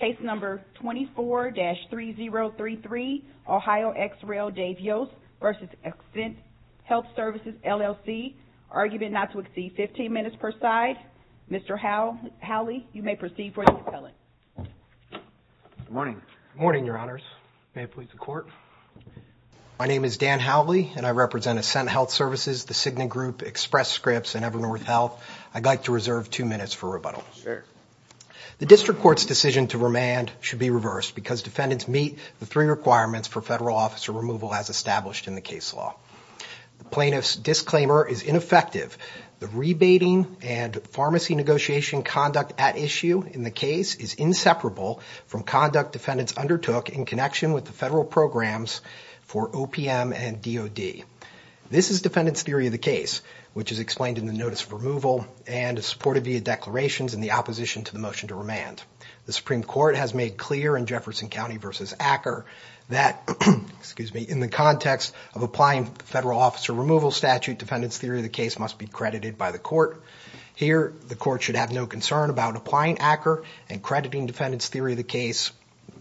Case number 24-3033, Ohio ex rel Dave Yost v. Ascent Health Services, LLC, argument not to exceed 15 minutes per side. Mr. Howley, you may proceed for the appellate. Good morning. Good morning, your honors. May it please the court. My name is Dan Howley, and I represent Ascent Health Services, the Cigna Group, Express Scripts, and Ever North Health. I'd like to reserve two minutes for rebuttal. Sure. The district court's decision to remand should be reversed because defendants meet the three requirements for federal officer removal as established in the case law. The plaintiff's disclaimer is ineffective. The rebating and pharmacy negotiation conduct at issue in the case is inseparable from conduct defendants undertook in connection with the federal programs for OPM and DOD. This is defendant's theory of the case, which is explained in the notice of removal and is supported via declarations in the opposition to the motion to remand. The Supreme Court has made clear in Jefferson County v. Acker that, in the context of applying federal officer removal statute, defendant's theory of the case must be credited by the court. Here, the court should have no concern about applying Acker and crediting defendant's theory of the case.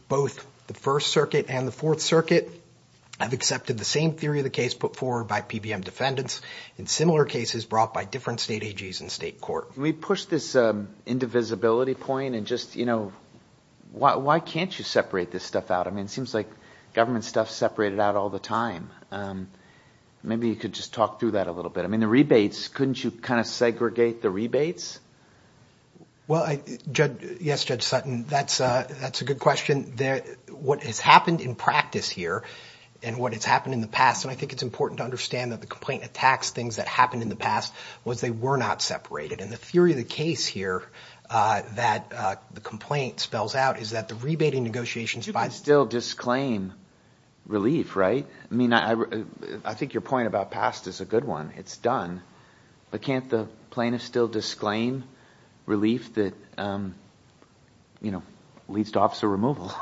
Both the First Circuit and the Fourth Circuit have accepted the same theory of the case put forward by PBM defendants in similar cases brought by different state AGs and state court. We push this indivisibility point and just, you know, why can't you separate this stuff out? I mean, it seems like government stuff is separated out all the time. Maybe you could just talk through that a little bit. I mean, the rebates, couldn't you kind of segregate the rebates? Well, yes, Judge Sutton. That's a good question. What has happened in practice here and what has happened in the past, and I think it's important to understand that the complaint attacks things that happened in the past, was they were not separated. And the theory of the case here that the complaint spells out is that the rebating negotiations— You can still disclaim relief, right? I mean, I think your point about past is a good one. It's done. But can't the plaintiffs still disclaim relief that, you know, leads to officer removal?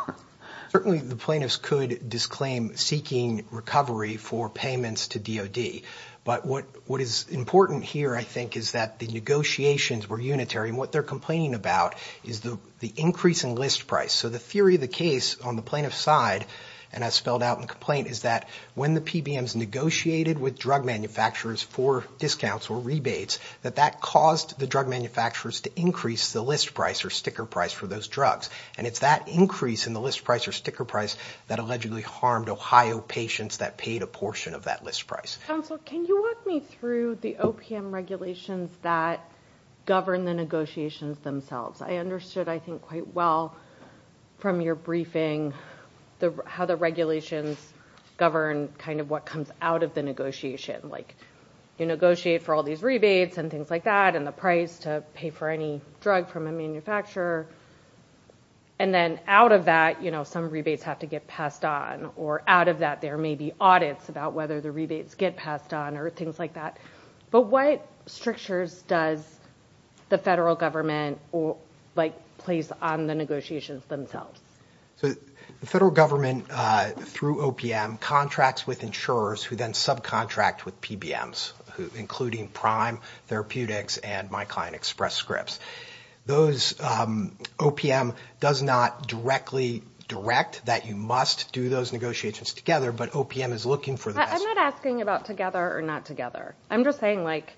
Certainly the plaintiffs could disclaim seeking recovery for payments to DOD. But what is important here, I think, is that the negotiations were unitary, and what they're complaining about is the increase in list price. So the theory of the case on the plaintiff's side, and as spelled out in the complaint, is that when the PBMs negotiated with drug manufacturers for discounts or rebates, that that caused the drug manufacturers to increase the list price or sticker price for those drugs. And it's that increase in the list price or sticker price that allegedly harmed Ohio patients that paid a portion of that list price. Counsel, can you walk me through the OPM regulations that govern the negotiations themselves? I understood, I think, quite well from your briefing how the regulations govern kind of what comes out of the negotiation. Like, you negotiate for all these rebates and things like that, and the price to pay for any drug from a manufacturer. And then out of that, you know, some rebates have to get passed on, or out of that there may be audits about whether the rebates get passed on or things like that. But what strictures does the federal government, like, place on the negotiations themselves? So the federal government, through OPM, contracts with insurers who then subcontract with PBMs, including Prime Therapeutics and MyClientExpress scripts. Those, OPM does not directly direct that you must do those negotiations together, but OPM is looking for the best... I'm not asking about together or not together. I'm just saying, like,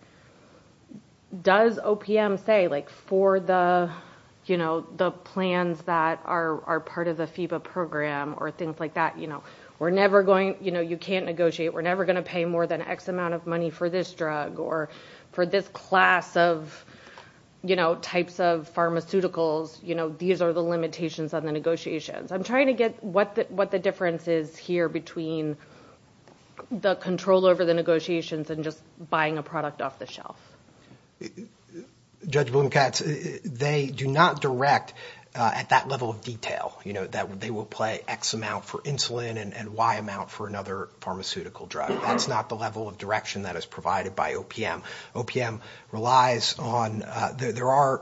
does OPM say, like, for the, you know, the plans that are part of the FEBA program or things like that, you know, we're never going, you know, you can't negotiate, we're never going to pay more than X amount of money for this drug or for this class of, you know, types of pharmaceuticals. You know, these are the limitations of the negotiations. I'm trying to get what the difference is here between the control over the negotiations and just buying a product off the shelf. Judge Blomkatz, they do not direct at that level of detail, you know, that they will pay X amount for insulin and Y amount for another pharmaceutical drug. That's not the level of direction that is provided by OPM. OPM relies on, there are,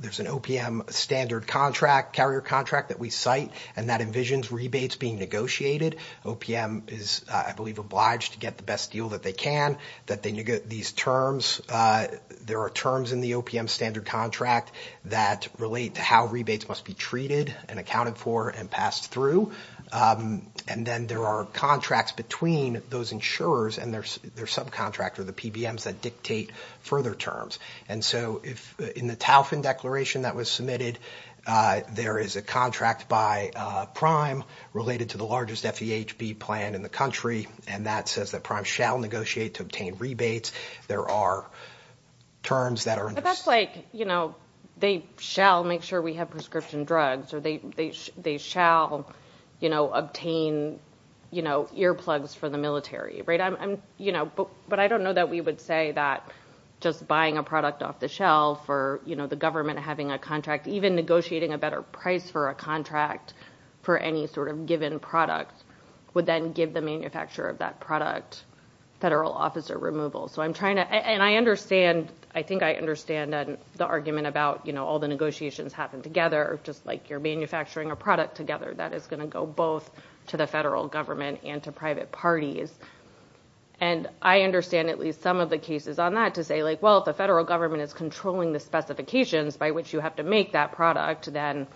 there's an OPM standard contract, carrier contract that we cite, and that envisions rebates being negotiated. OPM is, I believe, obliged to get the best deal that they can, that they negotiate these terms. There are terms in the OPM standard contract that relate to how rebates must be treated and accounted for and passed through. And then there are contracts between those insurers and their subcontractor, the PBMs, that dictate further terms. And so if, in the Taufin Declaration that was submitted, there is a contract by Prime related to the largest FEHB plan in the country, and that says that Prime shall negotiate to obtain rebates. There are terms that are... But that's like, you know, they shall make sure we have prescription drugs, or they shall, you know, obtain, you know, earplugs for the military, right? But I don't know that we would say that just buying a product off the shelf or, you know, the government having a contract, even negotiating a better price for a contract for any sort of given product would then give the manufacturer of that product federal officer removal. So I'm trying to... And I understand, I think I understand the argument about, you know, all the negotiations happen together, just like you're manufacturing a product together that is going to go both to the federal government and to private parties. And I understand at least some of the cases on that to say, like, well, if the federal government is controlling the specifications by which you have to make that product, then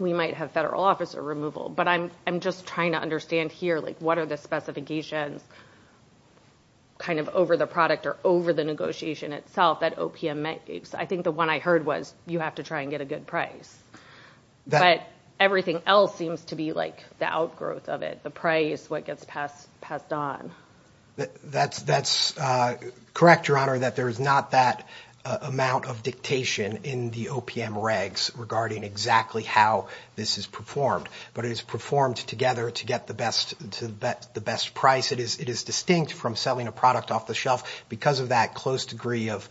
we might have federal officer removal. But I'm just trying to understand here, like, what are the specifications kind of over the product or over the negotiation itself that OPM makes? I think the one I heard was you have to try and get a good price. But everything else seems to be like the outgrowth of it, the price, what gets passed on. That's correct, Your Honor, that there is not that amount of dictation in the OPM regs regarding exactly how this is performed. But it is performed together to get the best price. It is distinct from selling a product off the shelf because of that close degree of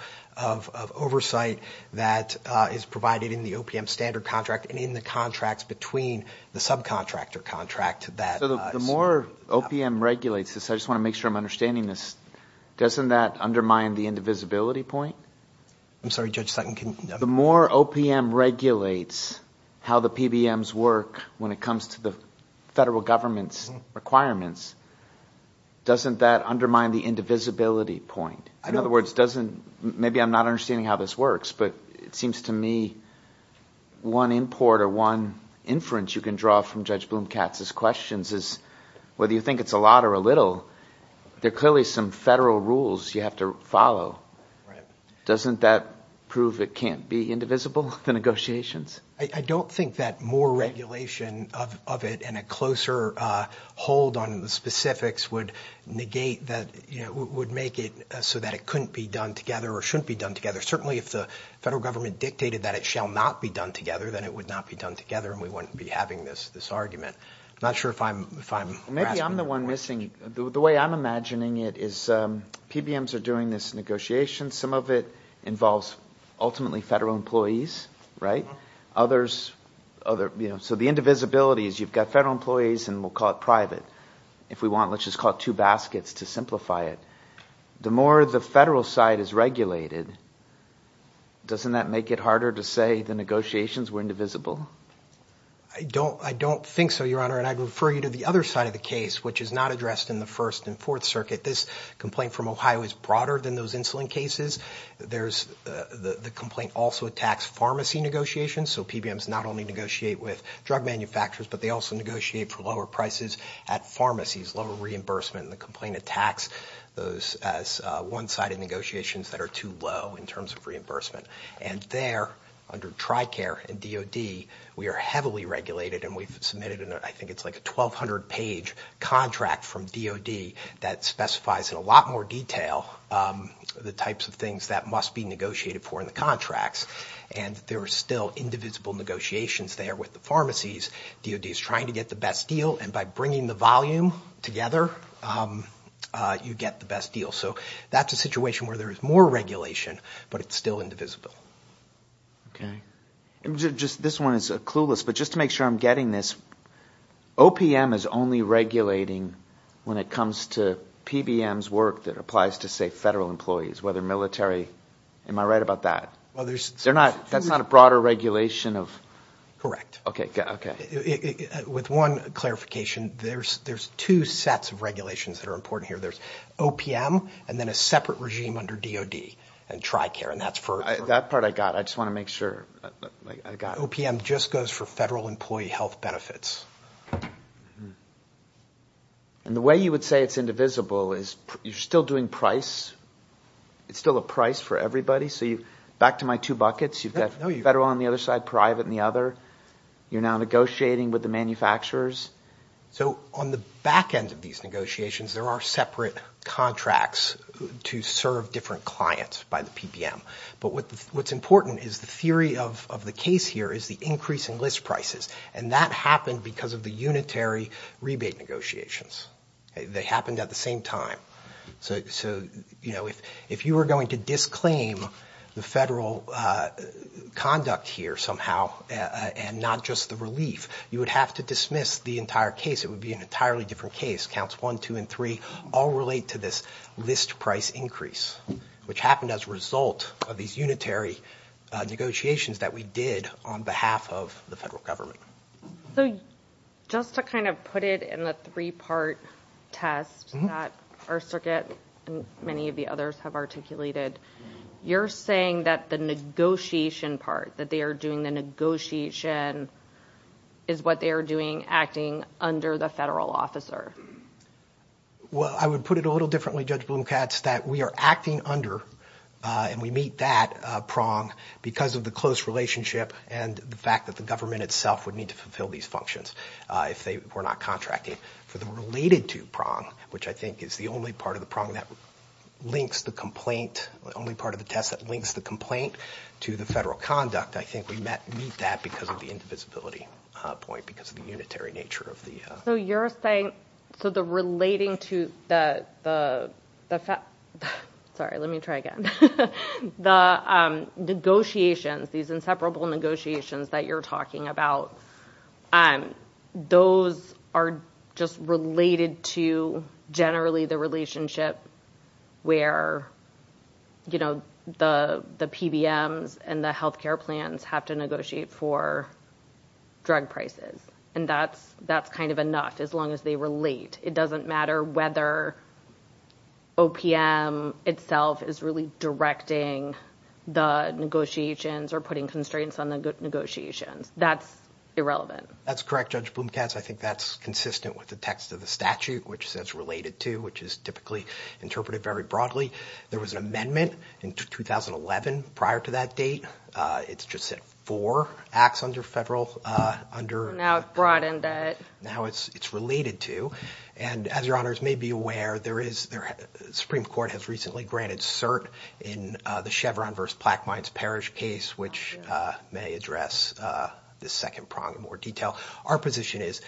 oversight that is provided in the OPM standard contract and in the contracts between the subcontractor contract that... The more OPM regulates this, I just want to make sure I'm understanding this, doesn't that undermine the indivisibility point? I'm sorry, Judge Sutton. The more OPM regulates how the PBMs work when it comes to the federal government's requirements, doesn't that undermine the indivisibility point? In other words, maybe I'm not understanding how this works, but it seems to me one import or one inference you can draw from Judge Bloom-Katz's questions is whether you think it's a lot or a little, there are clearly some federal rules you have to follow. Doesn't that prove it can't be indivisible, the negotiations? I don't think that more regulation of it and a closer hold on the specifics would negate that, would make it so that it couldn't be done together or shouldn't be done together. Certainly if the federal government dictated that it shall not be done together, then it would not be done together and we wouldn't be having this argument. I'm not sure if I'm grasping the point. Maybe I'm the one missing. The way I'm imagining it is PBMs are doing this negotiation. Some of it involves ultimately federal employees, right? So the indivisibility is you've got federal employees and we'll call it private. If we want, let's just call it two baskets to simplify it. The more the federal side is regulated, doesn't that make it harder to say the negotiations were indivisible? I don't think so, Your Honor, and I'd refer you to the other side of the case, which is not addressed in the First and Fourth Circuit. This complaint from Ohio is broader than those insulin cases. The complaint also attacks pharmacy negotiations. So PBMs not only negotiate with drug manufacturers, but they also negotiate for lower prices at pharmacies, lower reimbursement. The complaint attacks those as one-sided negotiations that are too low in terms of reimbursement. And there, under TRICARE and DoD, we are heavily regulated and we've submitted, I think it's like a 1,200-page contract from DoD that specifies in a lot more detail the types of things that must be negotiated for in the contracts. And there are still indivisible negotiations there with the pharmacies. DoD is trying to get the best deal, and by bringing the volume together, you get the best deal. So that's a situation where there is more regulation, but it's still indivisible. This one is clueless, but just to make sure I'm getting this, OPM is only regulating when it comes to PBMs' work that applies to, say, federal employees, whether military. Am I right about that? Well, there's – That's not a broader regulation of – Correct. Okay. With one clarification, there's two sets of regulations that are important here. There's OPM and then a separate regime under DoD and TRICARE. And that's for – That part I got. I just want to make sure I got it. OPM just goes for federal employee health benefits. And the way you would say it's indivisible is you're still doing price. It's still a price for everybody. So back to my two buckets, you've got federal on the other side, private on the other. You're now negotiating with the manufacturers. So on the back end of these negotiations, there are separate contracts to serve different clients by the PBM. But what's important is the theory of the case here is the increase in list prices, and that happened because of the unitary rebate negotiations. They happened at the same time. So, you know, if you were going to disclaim the federal conduct here somehow and not just the relief, you would have to dismiss the entire case. It would be an entirely different case. Counts 1, 2, and 3 all relate to this list price increase, which happened as a result of these unitary negotiations that we did on behalf of the federal government. So just to kind of put it in the three-part test that our circuit and many of the others have articulated, you're saying that the negotiation part, that they are doing the negotiation, is what they are doing acting under the federal officer. Well, I would put it a little differently, Judge Bloom-Katz, that we are acting under and we meet that prong because of the close relationship and the fact that the government itself would need to fulfill these functions if they were not contracting. For the related to prong, which I think is the only part of the prong that links the complaint, the only part of the test that links the complaint to the federal conduct, I think we meet that because of the indivisibility point, because of the unitary nature of the... So you're saying, so the relating to the... Sorry, let me try again. The negotiations, these inseparable negotiations that you're talking about, those are just related to generally the relationship where the PBMs and the healthcare plans have to negotiate for drug prices, and that's kind of enough as long as they relate. It doesn't matter whether OPM itself is really directing the negotiations or putting constraints on the negotiations. That's irrelevant. That's correct, Judge Bloom-Katz. I think that's consistent with the text of the statute, which says related to, which is typically interpreted very broadly. There was an amendment in 2011 prior to that date. It just said four acts under federal... Now it broadened that. Now it's related to, and as your honors may be aware, the Supreme Court has recently granted cert in the Chevron versus Plaquemines Parish case, which may address this second prong in more detail. Our position is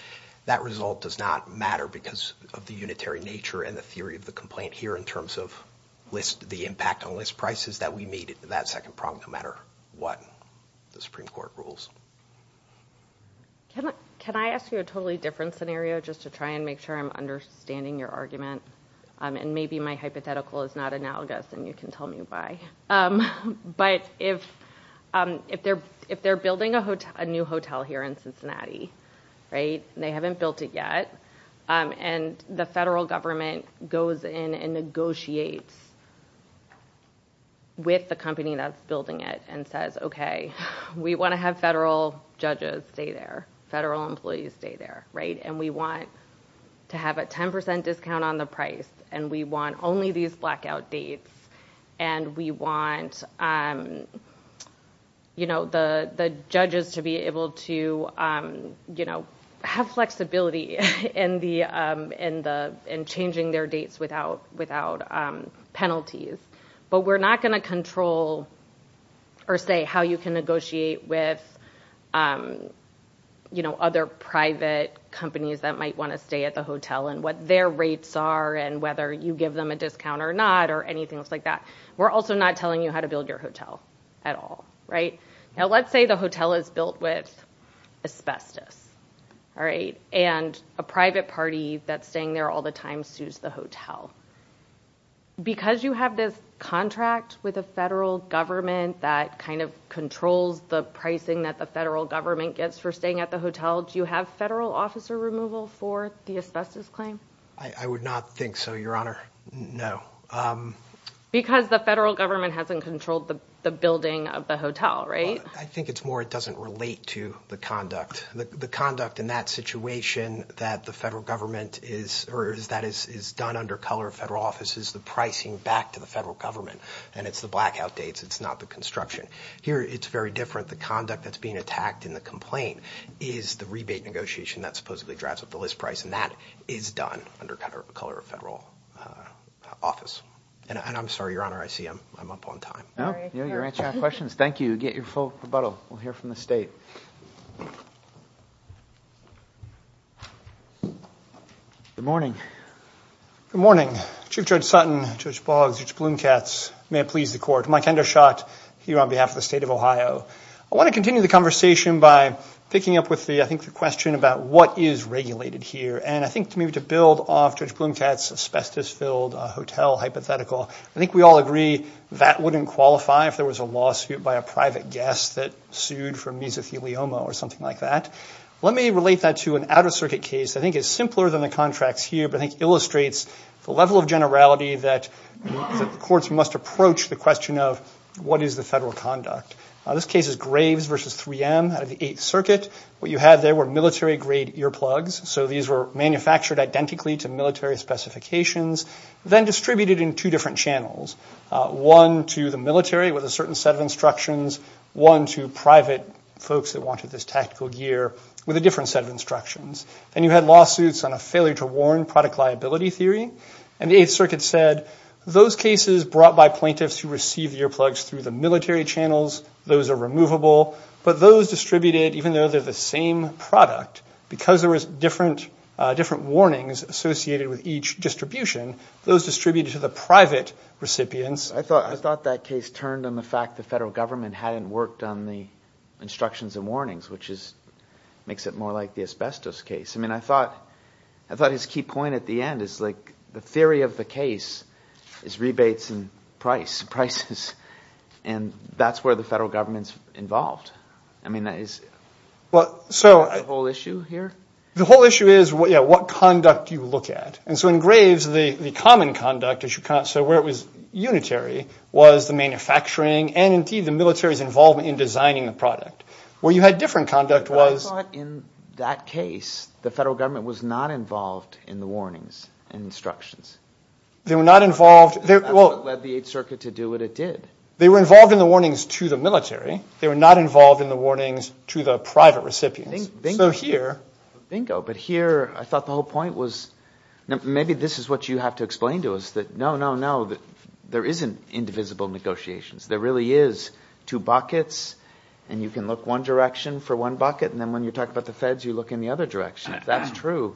that result does not matter because of the unitary nature and the theory of the complaint here in terms of the impact on list prices that we meet at that second prong, no matter what the Supreme Court rules. Can I ask you a totally different scenario just to try and make sure I'm understanding your argument? Maybe my hypothetical is not analogous and you can tell me why. But if they're building a new hotel here in Cincinnati, and they haven't built it yet, and the federal government goes in and negotiates with the company that's building it and says, okay, we want to have federal judges stay there, federal employees stay there, and we want to have a 10% discount on the price, and we want only these blackout dates, and we want the judges to be able to have flexibility in changing their dates without penalties. But we're not going to control or say how you can negotiate with other private companies that might want to stay at the hotel and what their rates are and whether you give them a discount or not or anything like that. We're also not telling you how to build your hotel at all. Now, let's say the hotel is built with asbestos, and a private party that's staying there all the time sues the hotel. Because you have this contract with a federal government that kind of controls the pricing that the federal government gets for staying at the hotel, do you have federal officer removal for the asbestos claim? I would not think so, Your Honor. No. Because the federal government hasn't controlled the building of the hotel, right? I think it's more it doesn't relate to the conduct. The conduct in that situation that the federal government is or that is done under color of federal office is the pricing back to the federal government, and it's the blackout dates, it's not the construction. Here it's very different. The conduct that's being attacked in the complaint is the rebate negotiation that supposedly drives up the list price, and that is done under color of federal office. And I'm sorry, Your Honor, I see I'm up on time. No, you're answering our questions. Thank you. Get your full rebuttal. We'll hear from the state. Good morning. Good morning. Chief Judge Sutton, Judge Boggs, Judge Blumkatz, may it please the court, Mike Endershot here on behalf of the state of Ohio. I want to continue the conversation by picking up with, I think, the question about what is regulated here. And I think maybe to build off Judge Blumkatz's asbestos-filled hotel hypothetical, I think we all agree that wouldn't qualify if there was a lawsuit by a private guest that sued for mesothelioma or something like that. Let me relate that to an Outer Circuit case that I think is simpler than the contracts here but I think illustrates the level of generality that the courts must approach the question of, what is the federal conduct? This case is Graves v. 3M out of the Eighth Circuit. What you had there were military-grade earplugs, so these were manufactured identically to military specifications, then distributed in two different channels, one to the military with a certain set of instructions, one to private folks that wanted this tactical gear with a different set of instructions. Then you had lawsuits on a failure-to-warn product liability theory, and the Eighth Circuit said those cases brought by plaintiffs who received earplugs through the military channels, those are removable, but those distributed, even though they're the same product, because there were different warnings associated with each distribution, those distributed to the private recipients. I thought that case turned on the fact the federal government hadn't worked on the instructions and warnings, which makes it more like the asbestos case. I thought his key point at the end is the theory of the case is rebates and prices, and that's where the federal government is involved. Is that the whole issue here? The whole issue is what conduct do you look at? In Graves, the common conduct, where it was unitary, was the manufacturing and, indeed, the military's involvement in designing the product. Where you had different conduct was... But I thought in that case the federal government was not involved in the warnings and instructions. They were not involved... That's what led the Eighth Circuit to do what it did. They were involved in the warnings to the military. They were not involved in the warnings to the private recipients. Bingo. So here... Bingo, but here I thought the whole point was maybe this is what you have to explain to us, that no, no, no, there isn't indivisible negotiations. There really is two buckets, and you can look one direction for one bucket, and then when you talk about the feds, you look in the other direction. If that's true,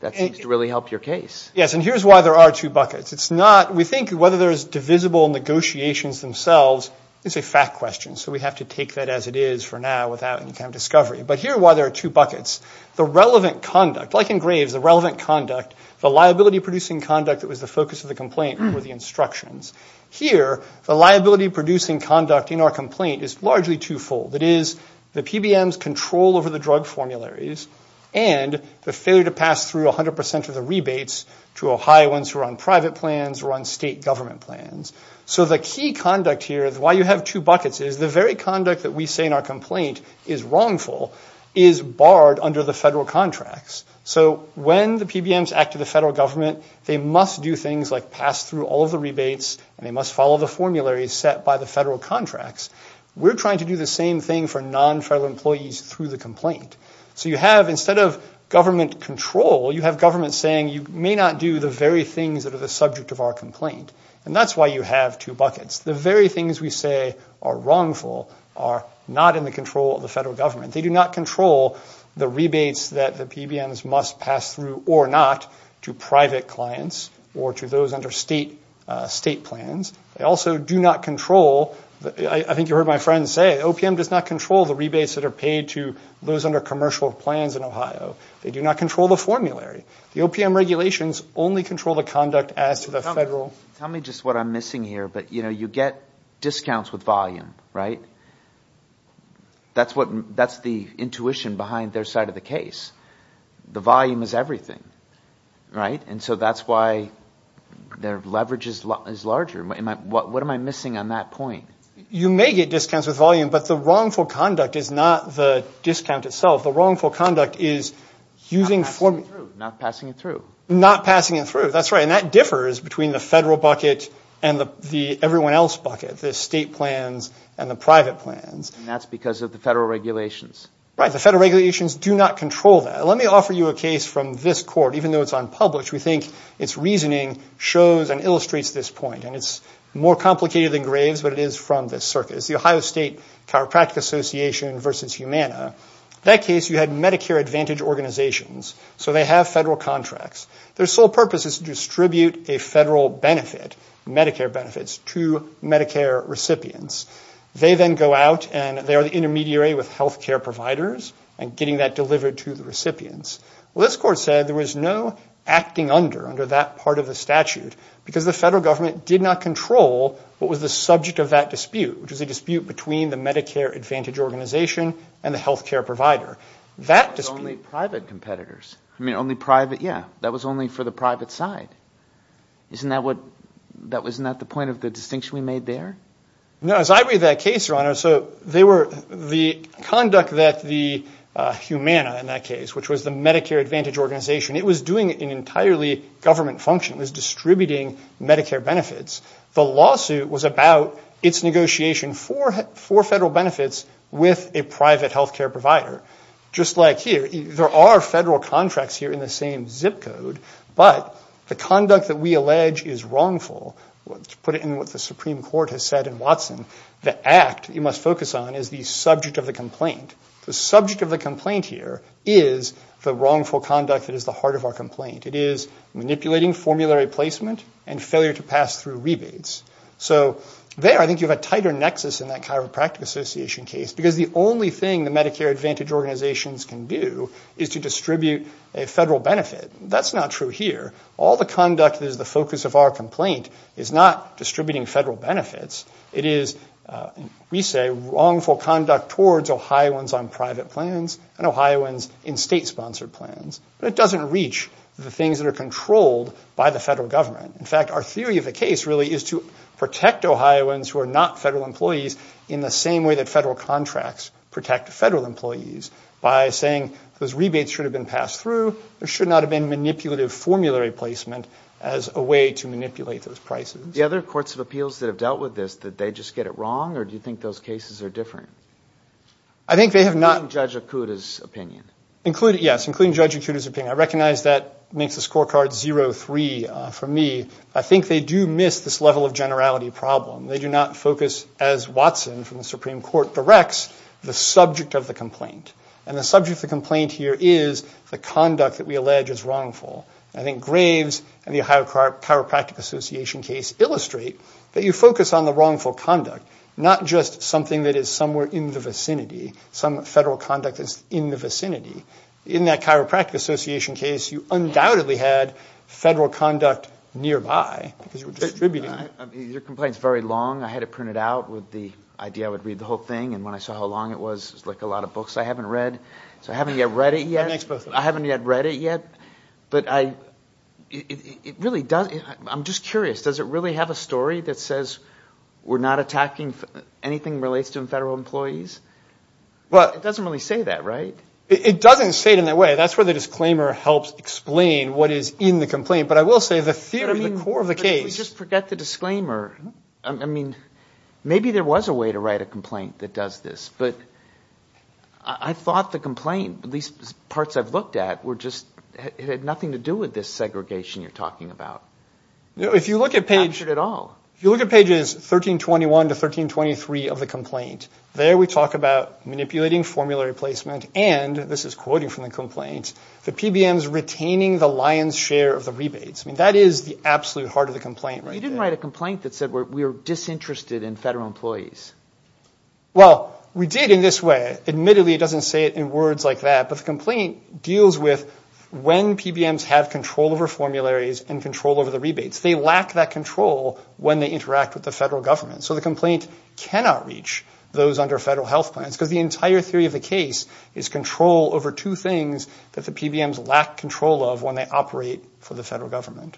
that seems to really help your case. Yes, and here's why there are two buckets. It's not... We think whether there's divisible negotiations themselves is a fact question, so we have to take that as it is for now without any kind of discovery. But here's why there are two buckets. The relevant conduct, like in Graves, the relevant conduct, the liability-producing conduct that was the focus of the complaint were the instructions. Here, the liability-producing conduct in our complaint is largely twofold. It is the PBM's control over the drug formularies and the failure to pass through 100% of the rebates to Ohioans who are on private plans or on state government plans. So the key conduct here, why you have two buckets, is the very conduct that we say in our complaint is wrongful is barred under the federal contracts. So when the PBMs act to the federal government, they must do things like pass through all of the rebates and they must follow the formularies set by the federal contracts. We're trying to do the same thing for non-federal employees through the complaint. So you have, instead of government control, you have government saying you may not do the very things that are the subject of our complaint. And that's why you have two buckets. The very things we say are wrongful are not in the control of the federal government. They do not control the rebates that the PBMs must pass through or not to private clients or to those under state plans. They also do not control, I think you heard my friend say, OPM does not control the rebates that are paid to those under commercial plans in Ohio. They do not control the formulary. The OPM regulations only control the conduct as to the federal. Tell me just what I'm missing here, but you get discounts with volume, right? That's the intuition behind their side of the case. The volume is everything, right? And so that's why their leverage is larger. What am I missing on that point? You may get discounts with volume, but the wrongful conduct is not the discount itself. The wrongful conduct is using formula. Not passing it through. Not passing it through, that's right. And that differs between the federal bucket and the everyone else bucket, the state plans and the private plans. And that's because of the federal regulations. Right, the federal regulations do not control that. Let me offer you a case from this court, even though it's unpublished. We think its reasoning shows and illustrates this point, and it's more complicated than Graves, but it is from this circuit. It's the Ohio State Chiropractic Association versus Humana. That case, you had Medicare Advantage organizations, so they have federal contracts. Their sole purpose is to distribute a federal benefit, Medicare benefits, to Medicare recipients. They then go out and they are the intermediary with health care providers and getting that delivered to the recipients. Well, this court said there was no acting under, under that part of the statute, because the federal government did not control what was the subject of that dispute, which was a dispute between the Medicare Advantage organization and the health care provider. That was only private competitors. I mean, only private, yeah. That was only for the private side. Isn't that what, isn't that the point of the distinction we made there? No, as I read that case, Your Honor, so they were, the conduct that the Humana, in that case, which was the Medicare Advantage organization, it was doing an entirely government function. It was distributing Medicare benefits. The lawsuit was about its negotiation for federal benefits with a private health care provider. Just like here, there are federal contracts here in the same zip code, but the conduct that we allege is wrongful. To put it in what the Supreme Court has said in Watson, the act you must focus on is the subject of the complaint. The subject of the complaint here is the wrongful conduct that is the heart of our complaint. It is manipulating formulary placement and failure to pass through rebates. So there I think you have a tighter nexus in that chiropractic association case, because the only thing the Medicare Advantage organizations can do is to distribute a federal benefit. That's not true here. All the conduct that is the focus of our complaint is not distributing federal benefits. It is, we say, wrongful conduct towards Ohioans on private plans and Ohioans in state-sponsored plans. But it doesn't reach the things that are controlled by the federal government. In fact, our theory of the case really is to protect Ohioans who are not federal employees in the same way that federal contracts protect federal employees by saying those rebates should have been passed through. There should not have been manipulative formulary placement as a way to manipulate those prices. The other courts of appeals that have dealt with this, did they just get it wrong, or do you think those cases are different? I think they have not. Including Judge Acuda's opinion. Including, yes, including Judge Acuda's opinion. I recognize that makes the scorecard 0-3 for me. I think they do miss this level of generality problem. They do not focus, as Watson from the Supreme Court directs, the subject of the complaint. And the subject of the complaint here is the conduct that we allege is wrongful. I think Graves and the Ohio Chiropractic Association case illustrate that you focus on the wrongful conduct, not just something that is somewhere in the vicinity, some federal conduct that is in the vicinity. In that Chiropractic Association case, you undoubtedly had federal conduct nearby, because you were distributing it. Your complaint is very long. I had it printed out with the idea I would read the whole thing, and when I saw how long it was, it was like a lot of books I haven't read. So I haven't yet read it yet. That makes both of them. I haven't yet read it yet. But it really does – I'm just curious. Does it really have a story that says we're not attacking anything that relates to federal employees? It doesn't really say that, right? It doesn't say it in that way. That's where the disclaimer helps explain what is in the complaint. But I will say the theory at the core of the case – Just forget the disclaimer. I mean, maybe there was a way to write a complaint that does this. But I thought the complaint, at least parts I've looked at, had nothing to do with this segregation you're talking about. It's not captured at all. If you look at pages 1321 to 1323 of the complaint, there we talk about manipulating formulary placement, and this is quoted from the complaint, the PBMs retaining the lion's share of the rebates. I mean, that is the absolute heart of the complaint right there. You didn't write a complaint that said we're disinterested in federal employees. Well, we did in this way. Admittedly, it doesn't say it in words like that, but the complaint deals with when PBMs have control over formularies and control over the rebates. They lack that control when they interact with the federal government. So the complaint cannot reach those under federal health plans because the entire theory of the case is control over two things that the PBMs lack control of when they operate for the federal government.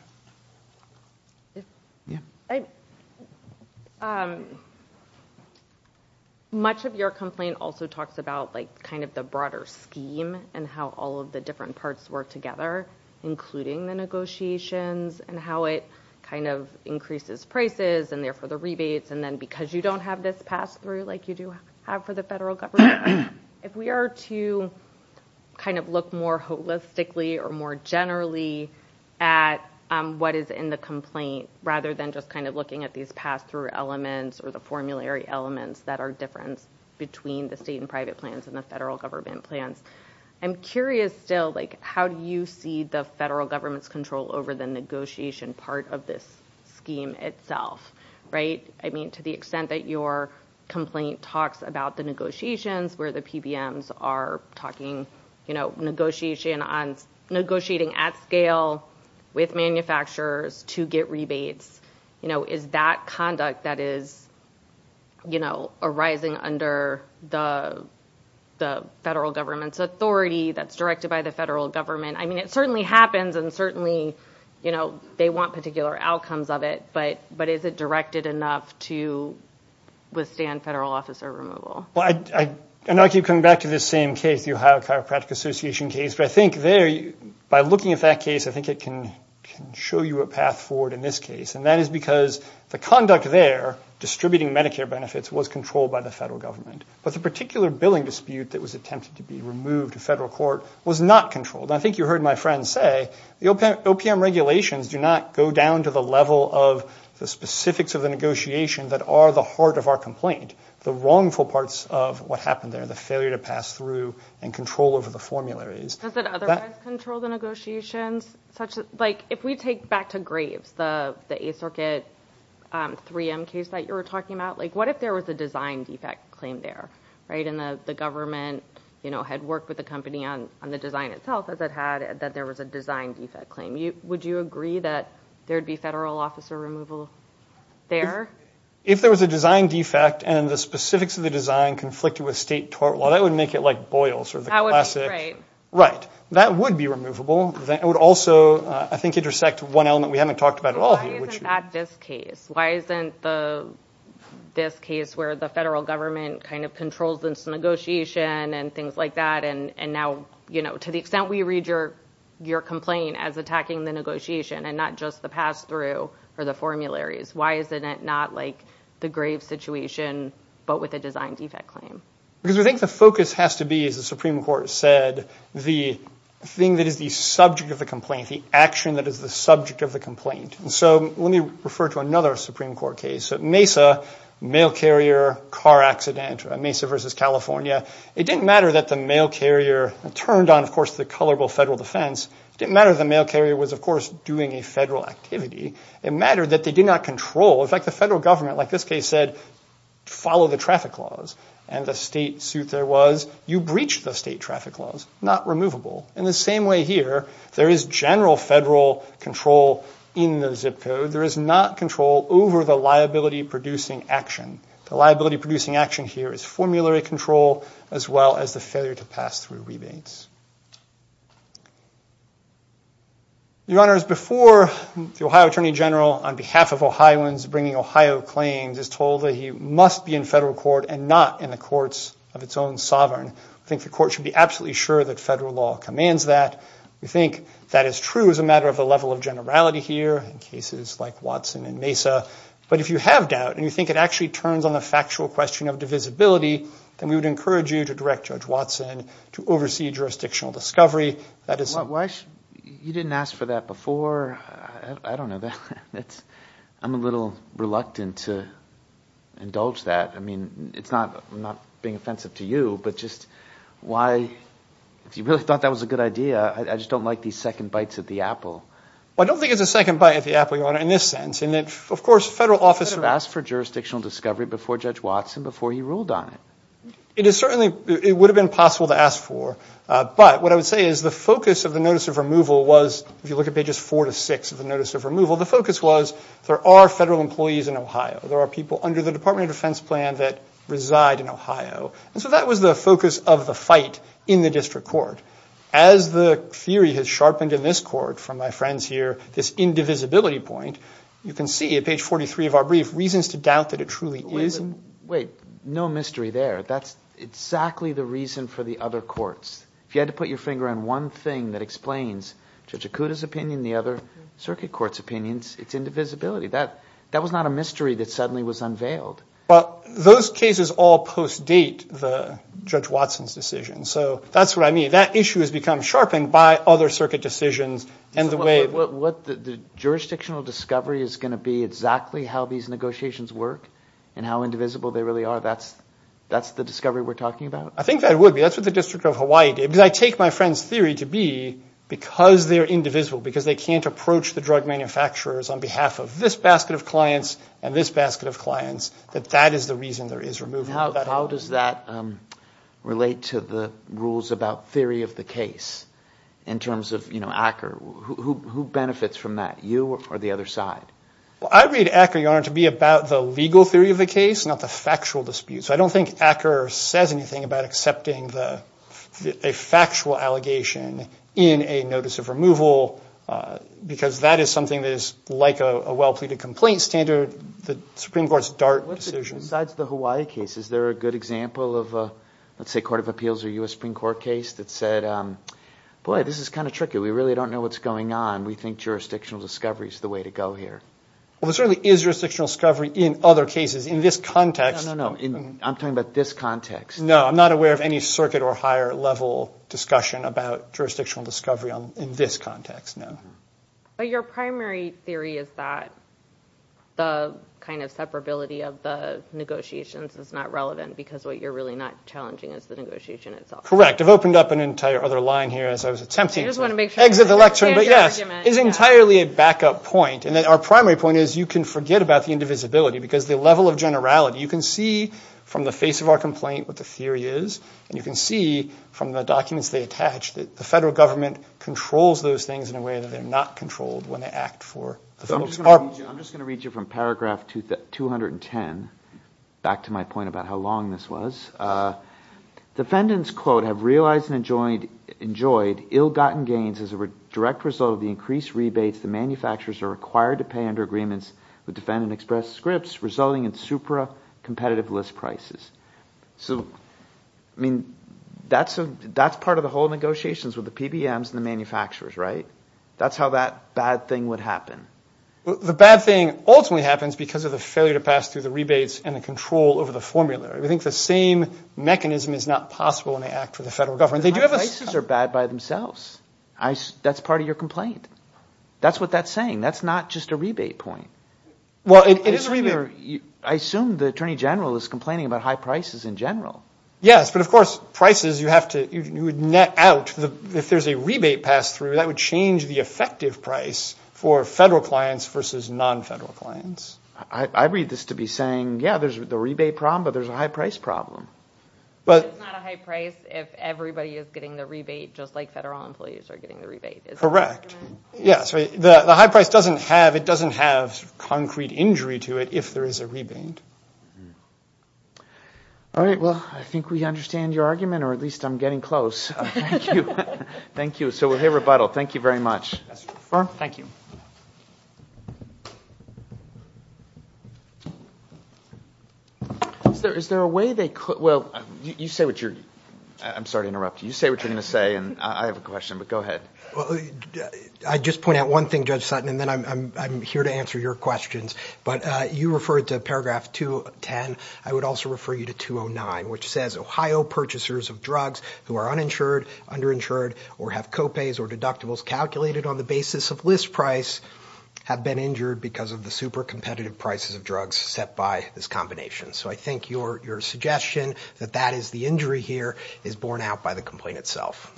Much of your complaint also talks about kind of the broader scheme and how all of the different parts work together, including the negotiations and how it kind of increases prices and therefore the rebates, and then because you don't have this pass-through like you do have for the federal government, if we are to kind of look more holistically or more generally at what is in the complaint rather than just kind of looking at these pass-through elements or the formulary elements that are different between the state and private plans and the federal government plans, I'm curious still, like, how do you see the federal government's control over the negotiation part of this scheme itself, right? I mean, to the extent that your complaint talks about the negotiations where the PBMs are talking, you know, negotiating at scale with manufacturers to get rebates, you know, is that conduct that is, you know, arising under the federal government's authority that's directed by the federal government? I mean, it certainly happens and certainly, you know, they want particular outcomes of it, but is it directed enough to withstand federal officer removal? Well, I know I keep coming back to this same case, the Ohio Chiropractic Association case, but I think there, by looking at that case, I think it can show you a path forward in this case, and that is because the conduct there, distributing Medicare benefits, was controlled by the federal government, but the particular billing dispute that was attempted to be removed in federal court was not controlled. I think you heard my friend say the OPM regulations do not go down to the level of the specifics of the negotiation that are the heart of our complaint, the wrongful parts of what happened there, the failure to pass through and control over the formularies. Does it otherwise control the negotiations? Like, if we take back to Graves, the Eighth Circuit 3M case that you were talking about, like, what if there was a design defect claim there, right, and the government, you know, had worked with the company on the design itself, as it had, that there was a design defect claim. Would you agree that there would be federal officer removal there? If there was a design defect and the specifics of the design conflicted with state tort law, that would make it like Boyle's or the classic. Right. That would be removable. It would also, I think, intersect one element we haven't talked about at all here. Why isn't that this case? Why isn't this case where the federal government kind of controls this negotiation and things like that, and now, you know, to the extent we read your complaint as attacking the negotiation and not just the pass-through or the formularies, why isn't it not like the Graves situation but with a design defect claim? Because I think the focus has to be, as the Supreme Court said, the thing that is the subject of the complaint, the action that is the subject of the complaint. And so let me refer to another Supreme Court case. Mesa, mail carrier, car accident, Mesa versus California. It didn't matter that the mail carrier turned on, of course, the colorable federal defense. It didn't matter that the mail carrier was, of course, doing a federal activity. It mattered that they did not control. In fact, the federal government, like this case said, followed the traffic laws, and the state suit there was you breached the state traffic laws, not removable. In the same way here, there is general federal control in the zip code. There is not control over the liability-producing action. The liability-producing action here is formulary control as well as the failure to pass through rebates. Your Honors, before the Ohio Attorney General, on behalf of Ohioans bringing Ohio claims, is told that he must be in federal court and not in the courts of its own sovereign, I think the court should be absolutely sure that federal law commands that. We think that is true as a matter of the level of generality here in cases like Watson and Mesa. But if you have doubt and you think it actually turns on the factual question of divisibility, then we would encourage you to direct Judge Watson to oversee jurisdictional discovery. You didn't ask for that before. I don't know. I'm a little reluctant to indulge that. I mean, I'm not being offensive to you, but just why? If you really thought that was a good idea, I just don't like these second bites at the apple. I don't think it's a second bite at the apple, Your Honor, in this sense. And then, of course, federal officers. You asked for jurisdictional discovery before Judge Watson, before he ruled on it. It is certainly, it would have been possible to ask for, but what I would say is the focus of the notice of removal was, if you look at pages four to six of the notice of removal, the focus was there are federal employees in Ohio. There are people under the Department of Defense plan that reside in Ohio. And so that was the focus of the fight in the district court. As the theory has sharpened in this court from my friends here, this indivisibility point, you can see at page 43 of our brief, reasons to doubt that it truly is. Wait, no mystery there. That's exactly the reason for the other courts. If you had to put your finger on one thing that explains Judge Akuta's opinion, the other circuit court's opinions, it's indivisibility. That was not a mystery that suddenly was unveiled. Well, those cases all post-date the Judge Watson's decision. So that's what I mean. That issue has become sharpened by other circuit decisions and the way. The jurisdictional discovery is going to be exactly how these negotiations work and how indivisible they really are. That's the discovery we're talking about? I think that would be. That's what the District of Hawaii did. Because I take my friend's theory to be because they're indivisible, because they can't approach the drug manufacturers on behalf of this basket of clients and this basket of clients, that that is the reason there is removal. How does that relate to the rules about theory of the case in terms of Acker? Who benefits from that, you or the other side? I read Acker, Your Honor, to be about the legal theory of the case, not the factual dispute. So I don't think Acker says anything about accepting a factual allegation in a notice of removal because that is something that is like a well-pleaded complaint standard, the Supreme Court's DART decision. Besides the Hawaii case, is there a good example of a, let's say, court of appeals or U.S. Supreme Court case that said, boy, this is kind of tricky. We really don't know what's going on. We think jurisdictional discovery is the way to go here. Well, there certainly is jurisdictional discovery in other cases. In this context. No, no, no. I'm talking about this context. No, I'm not aware of any circuit or higher level discussion about jurisdictional discovery in this context, no. But your primary theory is that the kind of separability of the negotiations is not relevant because what you're really not challenging is the negotiation itself. I've opened up an entire other line here as I was attempting to exit the lecture. I just want to make sure I understand your argument. Yes. It's entirely a backup point. Our primary point is you can forget about the indivisibility because the level of generality, you can see from the face of our complaint what the theory is, and you can see from the documents they attach that the federal government controls those things in a way that they're not controlled when they act for the federal department. I'm just going to read you from paragraph 210, back to my point about how long this was. Defendants, quote, have realized and enjoyed ill-gotten gains as a direct result of the increased rebates the manufacturers are required to pay under agreements with Defendant Express Scripts, resulting in supra-competitive list prices. So, I mean, that's part of the whole negotiations with the PBMs and the manufacturers, right? That's how that bad thing would happen. The bad thing ultimately happens because of the failure to pass through the rebates and the control over the formula. We think the same mechanism is not possible when they act for the federal government. The prices are bad by themselves. That's part of your complaint. That's what that's saying. That's not just a rebate point. Well, it is a rebate. I assume the Attorney General is complaining about high prices in general. Yes, but, of course, prices you have to net out. If there's a rebate passed through, that would change the effective price for federal clients versus non-federal clients. I read this to be saying, yeah, there's the rebate problem, but there's a high price problem. But it's not a high price if everybody is getting the rebate just like federal employees are getting the rebate. Correct. The high price doesn't have concrete injury to it if there is a rebate. All right. Well, I think we understand your argument, or at least I'm getting close. Thank you. Thank you. So, hey, rebuttal. Thank you very much. Thank you. Is there a way they could – well, you say what you're – I'm sorry to interrupt. You say what you're going to say, and I have a question, but go ahead. I'd just point out one thing, Judge Sutton, and then I'm here to answer your questions. But you referred to paragraph 210. I would also refer you to 209, which says, Ohio purchasers of drugs who are uninsured, underinsured, or have copays or deductibles calculated on the basis of list price have been injured because of the super competitive prices of drugs set by this combination. So I think your suggestion that that is the injury here is borne out by the complaint itself.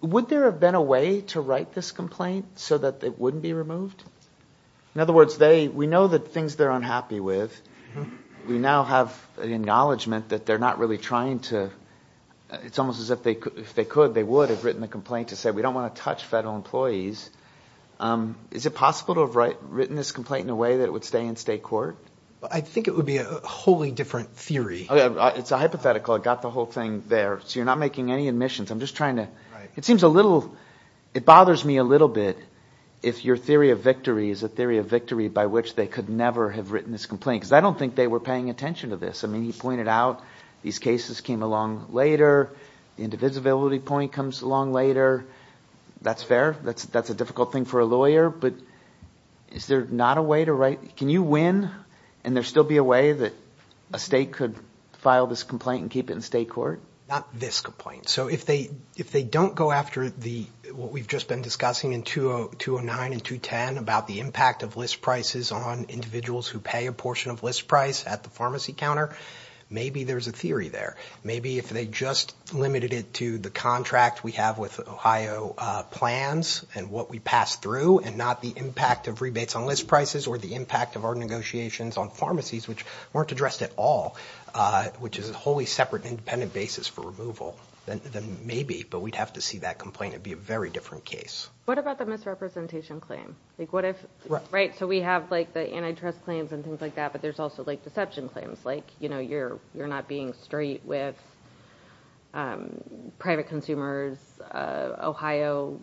Would there have been a way to write this complaint so that it wouldn't be removed? In other words, they – we know the things they're unhappy with. We now have an acknowledgment that they're not really trying to – it's almost as if they could – they would have written the complaint to say, we don't want to touch federal employees. Is it possible to have written this complaint in a way that it would stay in state court? I think it would be a wholly different theory. It's a hypothetical. I got the whole thing there. So you're not making any admissions. I'm just trying to – it seems a little – it bothers me a little bit if your theory of victory is a theory of victory by which they could never have written this complaint because I don't think they were paying attention to this. I mean he pointed out these cases came along later. The indivisibility point comes along later. That's fair. That's a difficult thing for a lawyer, but is there not a way to write – can you win and there still be a way that a state could file this complaint and keep it in state court? Not this complaint. So if they don't go after the – what we've just been discussing in 209 and 210 about the impact of list prices on individuals who pay a portion of list price at the pharmacy counter, maybe there's a theory there. Maybe if they just limited it to the contract we have with Ohio plans and what we pass through and not the impact of rebates on list prices or the impact of our negotiations on pharmacies, which weren't addressed at all, which is a wholly separate and independent basis for removal, then maybe. But we'd have to see that complaint. It would be a very different case. What about the misrepresentation claim? So we have the antitrust claims and things like that, but there's also deception claims like you're not being straight with private consumers, Ohio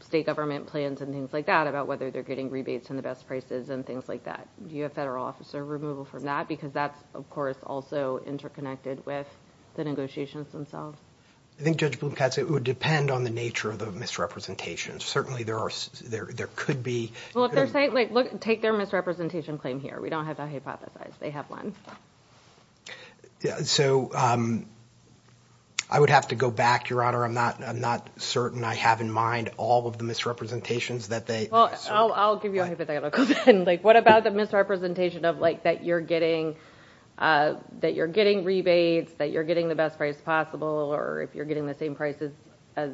state government plans and things like that about whether they're getting rebates on the best prices and things like that. Do you have federal officer removal from that? Because that's, of course, also interconnected with the negotiations themselves. I think Judge Blumkatz, it would depend on the nature of the misrepresentations. Certainly, there are – there could be – Well, if they're saying – like, look, take their misrepresentation claim here. We don't have that hypothesized. They have one. So I would have to go back, Your Honor. I'm not certain I have in mind all of the misrepresentations that they – Well, I'll give you a hypothetical then. Like, what about the misrepresentation of, like, that you're getting rebates, that you're getting the best price possible, or if you're getting the same price as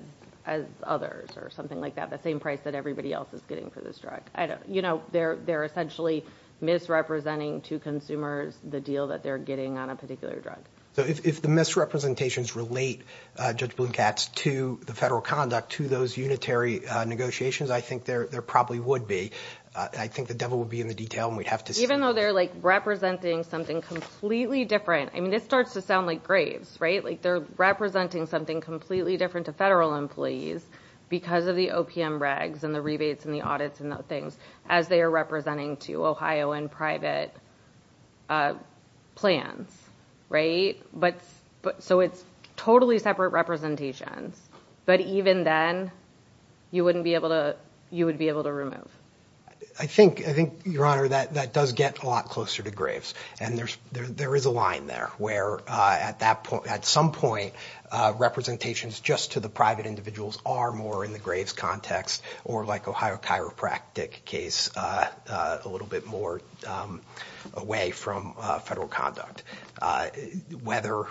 others or something like that, the same price that everybody else is getting for this drug? You know, they're essentially misrepresenting to consumers the deal that they're getting on a particular drug. So if the misrepresentations relate, Judge Blumkatz, to the federal conduct, to those unitary negotiations, I think there probably would be. I think the devil would be in the detail, and we'd have to see. Even though they're, like, representing something completely different – I mean, this starts to sound like graves, right? Like, they're representing something completely different to federal employees because of the OPM regs and the rebates and the audits and those things as they are representing to Ohio and private plans, right? But – so it's totally separate representations. But even then, you wouldn't be able to – you would be able to remove. I think, Your Honor, that does get a lot closer to graves. And there is a line there where, at some point, representations just to the private individuals are more in the graves context or, like, Ohio chiropractic case, a little bit more away from federal conduct. Whether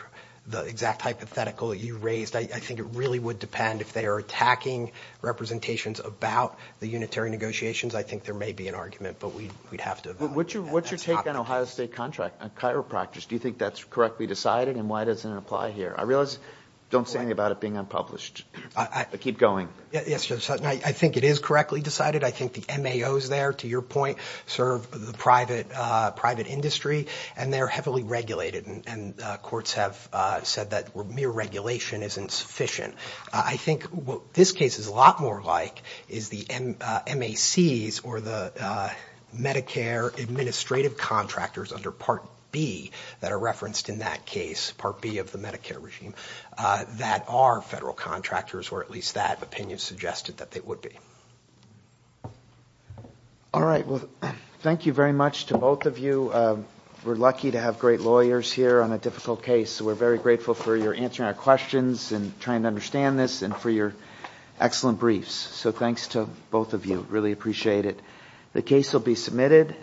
the exact hypothetical that you raised – I think it really would depend if they are attacking representations about the unitary negotiations. I think there may be an argument, but we'd have to – What's your take on Ohio State contract on chiropractors? Do you think that's correctly decided, and why does it apply here? I realize – don't say anything about it being unpublished, but keep going. Yes, Judge Sutton, I think it is correctly decided. I think the MAOs there, to your point, serve the private industry, and they're heavily regulated, and courts have said that mere regulation isn't sufficient. I think what this case is a lot more like is the MACs or the Medicare administrative contractors under Part B that are referenced in that case, Part B of the Medicare regime, that are federal contractors, or at least that opinion suggested that they would be. All right. Well, thank you very much to both of you. We're lucky to have great lawyers here on a difficult case, so we're very grateful for your answering our questions and trying to understand this and for your excellent briefs. So thanks to both of you. Really appreciate it. The case will be submitted.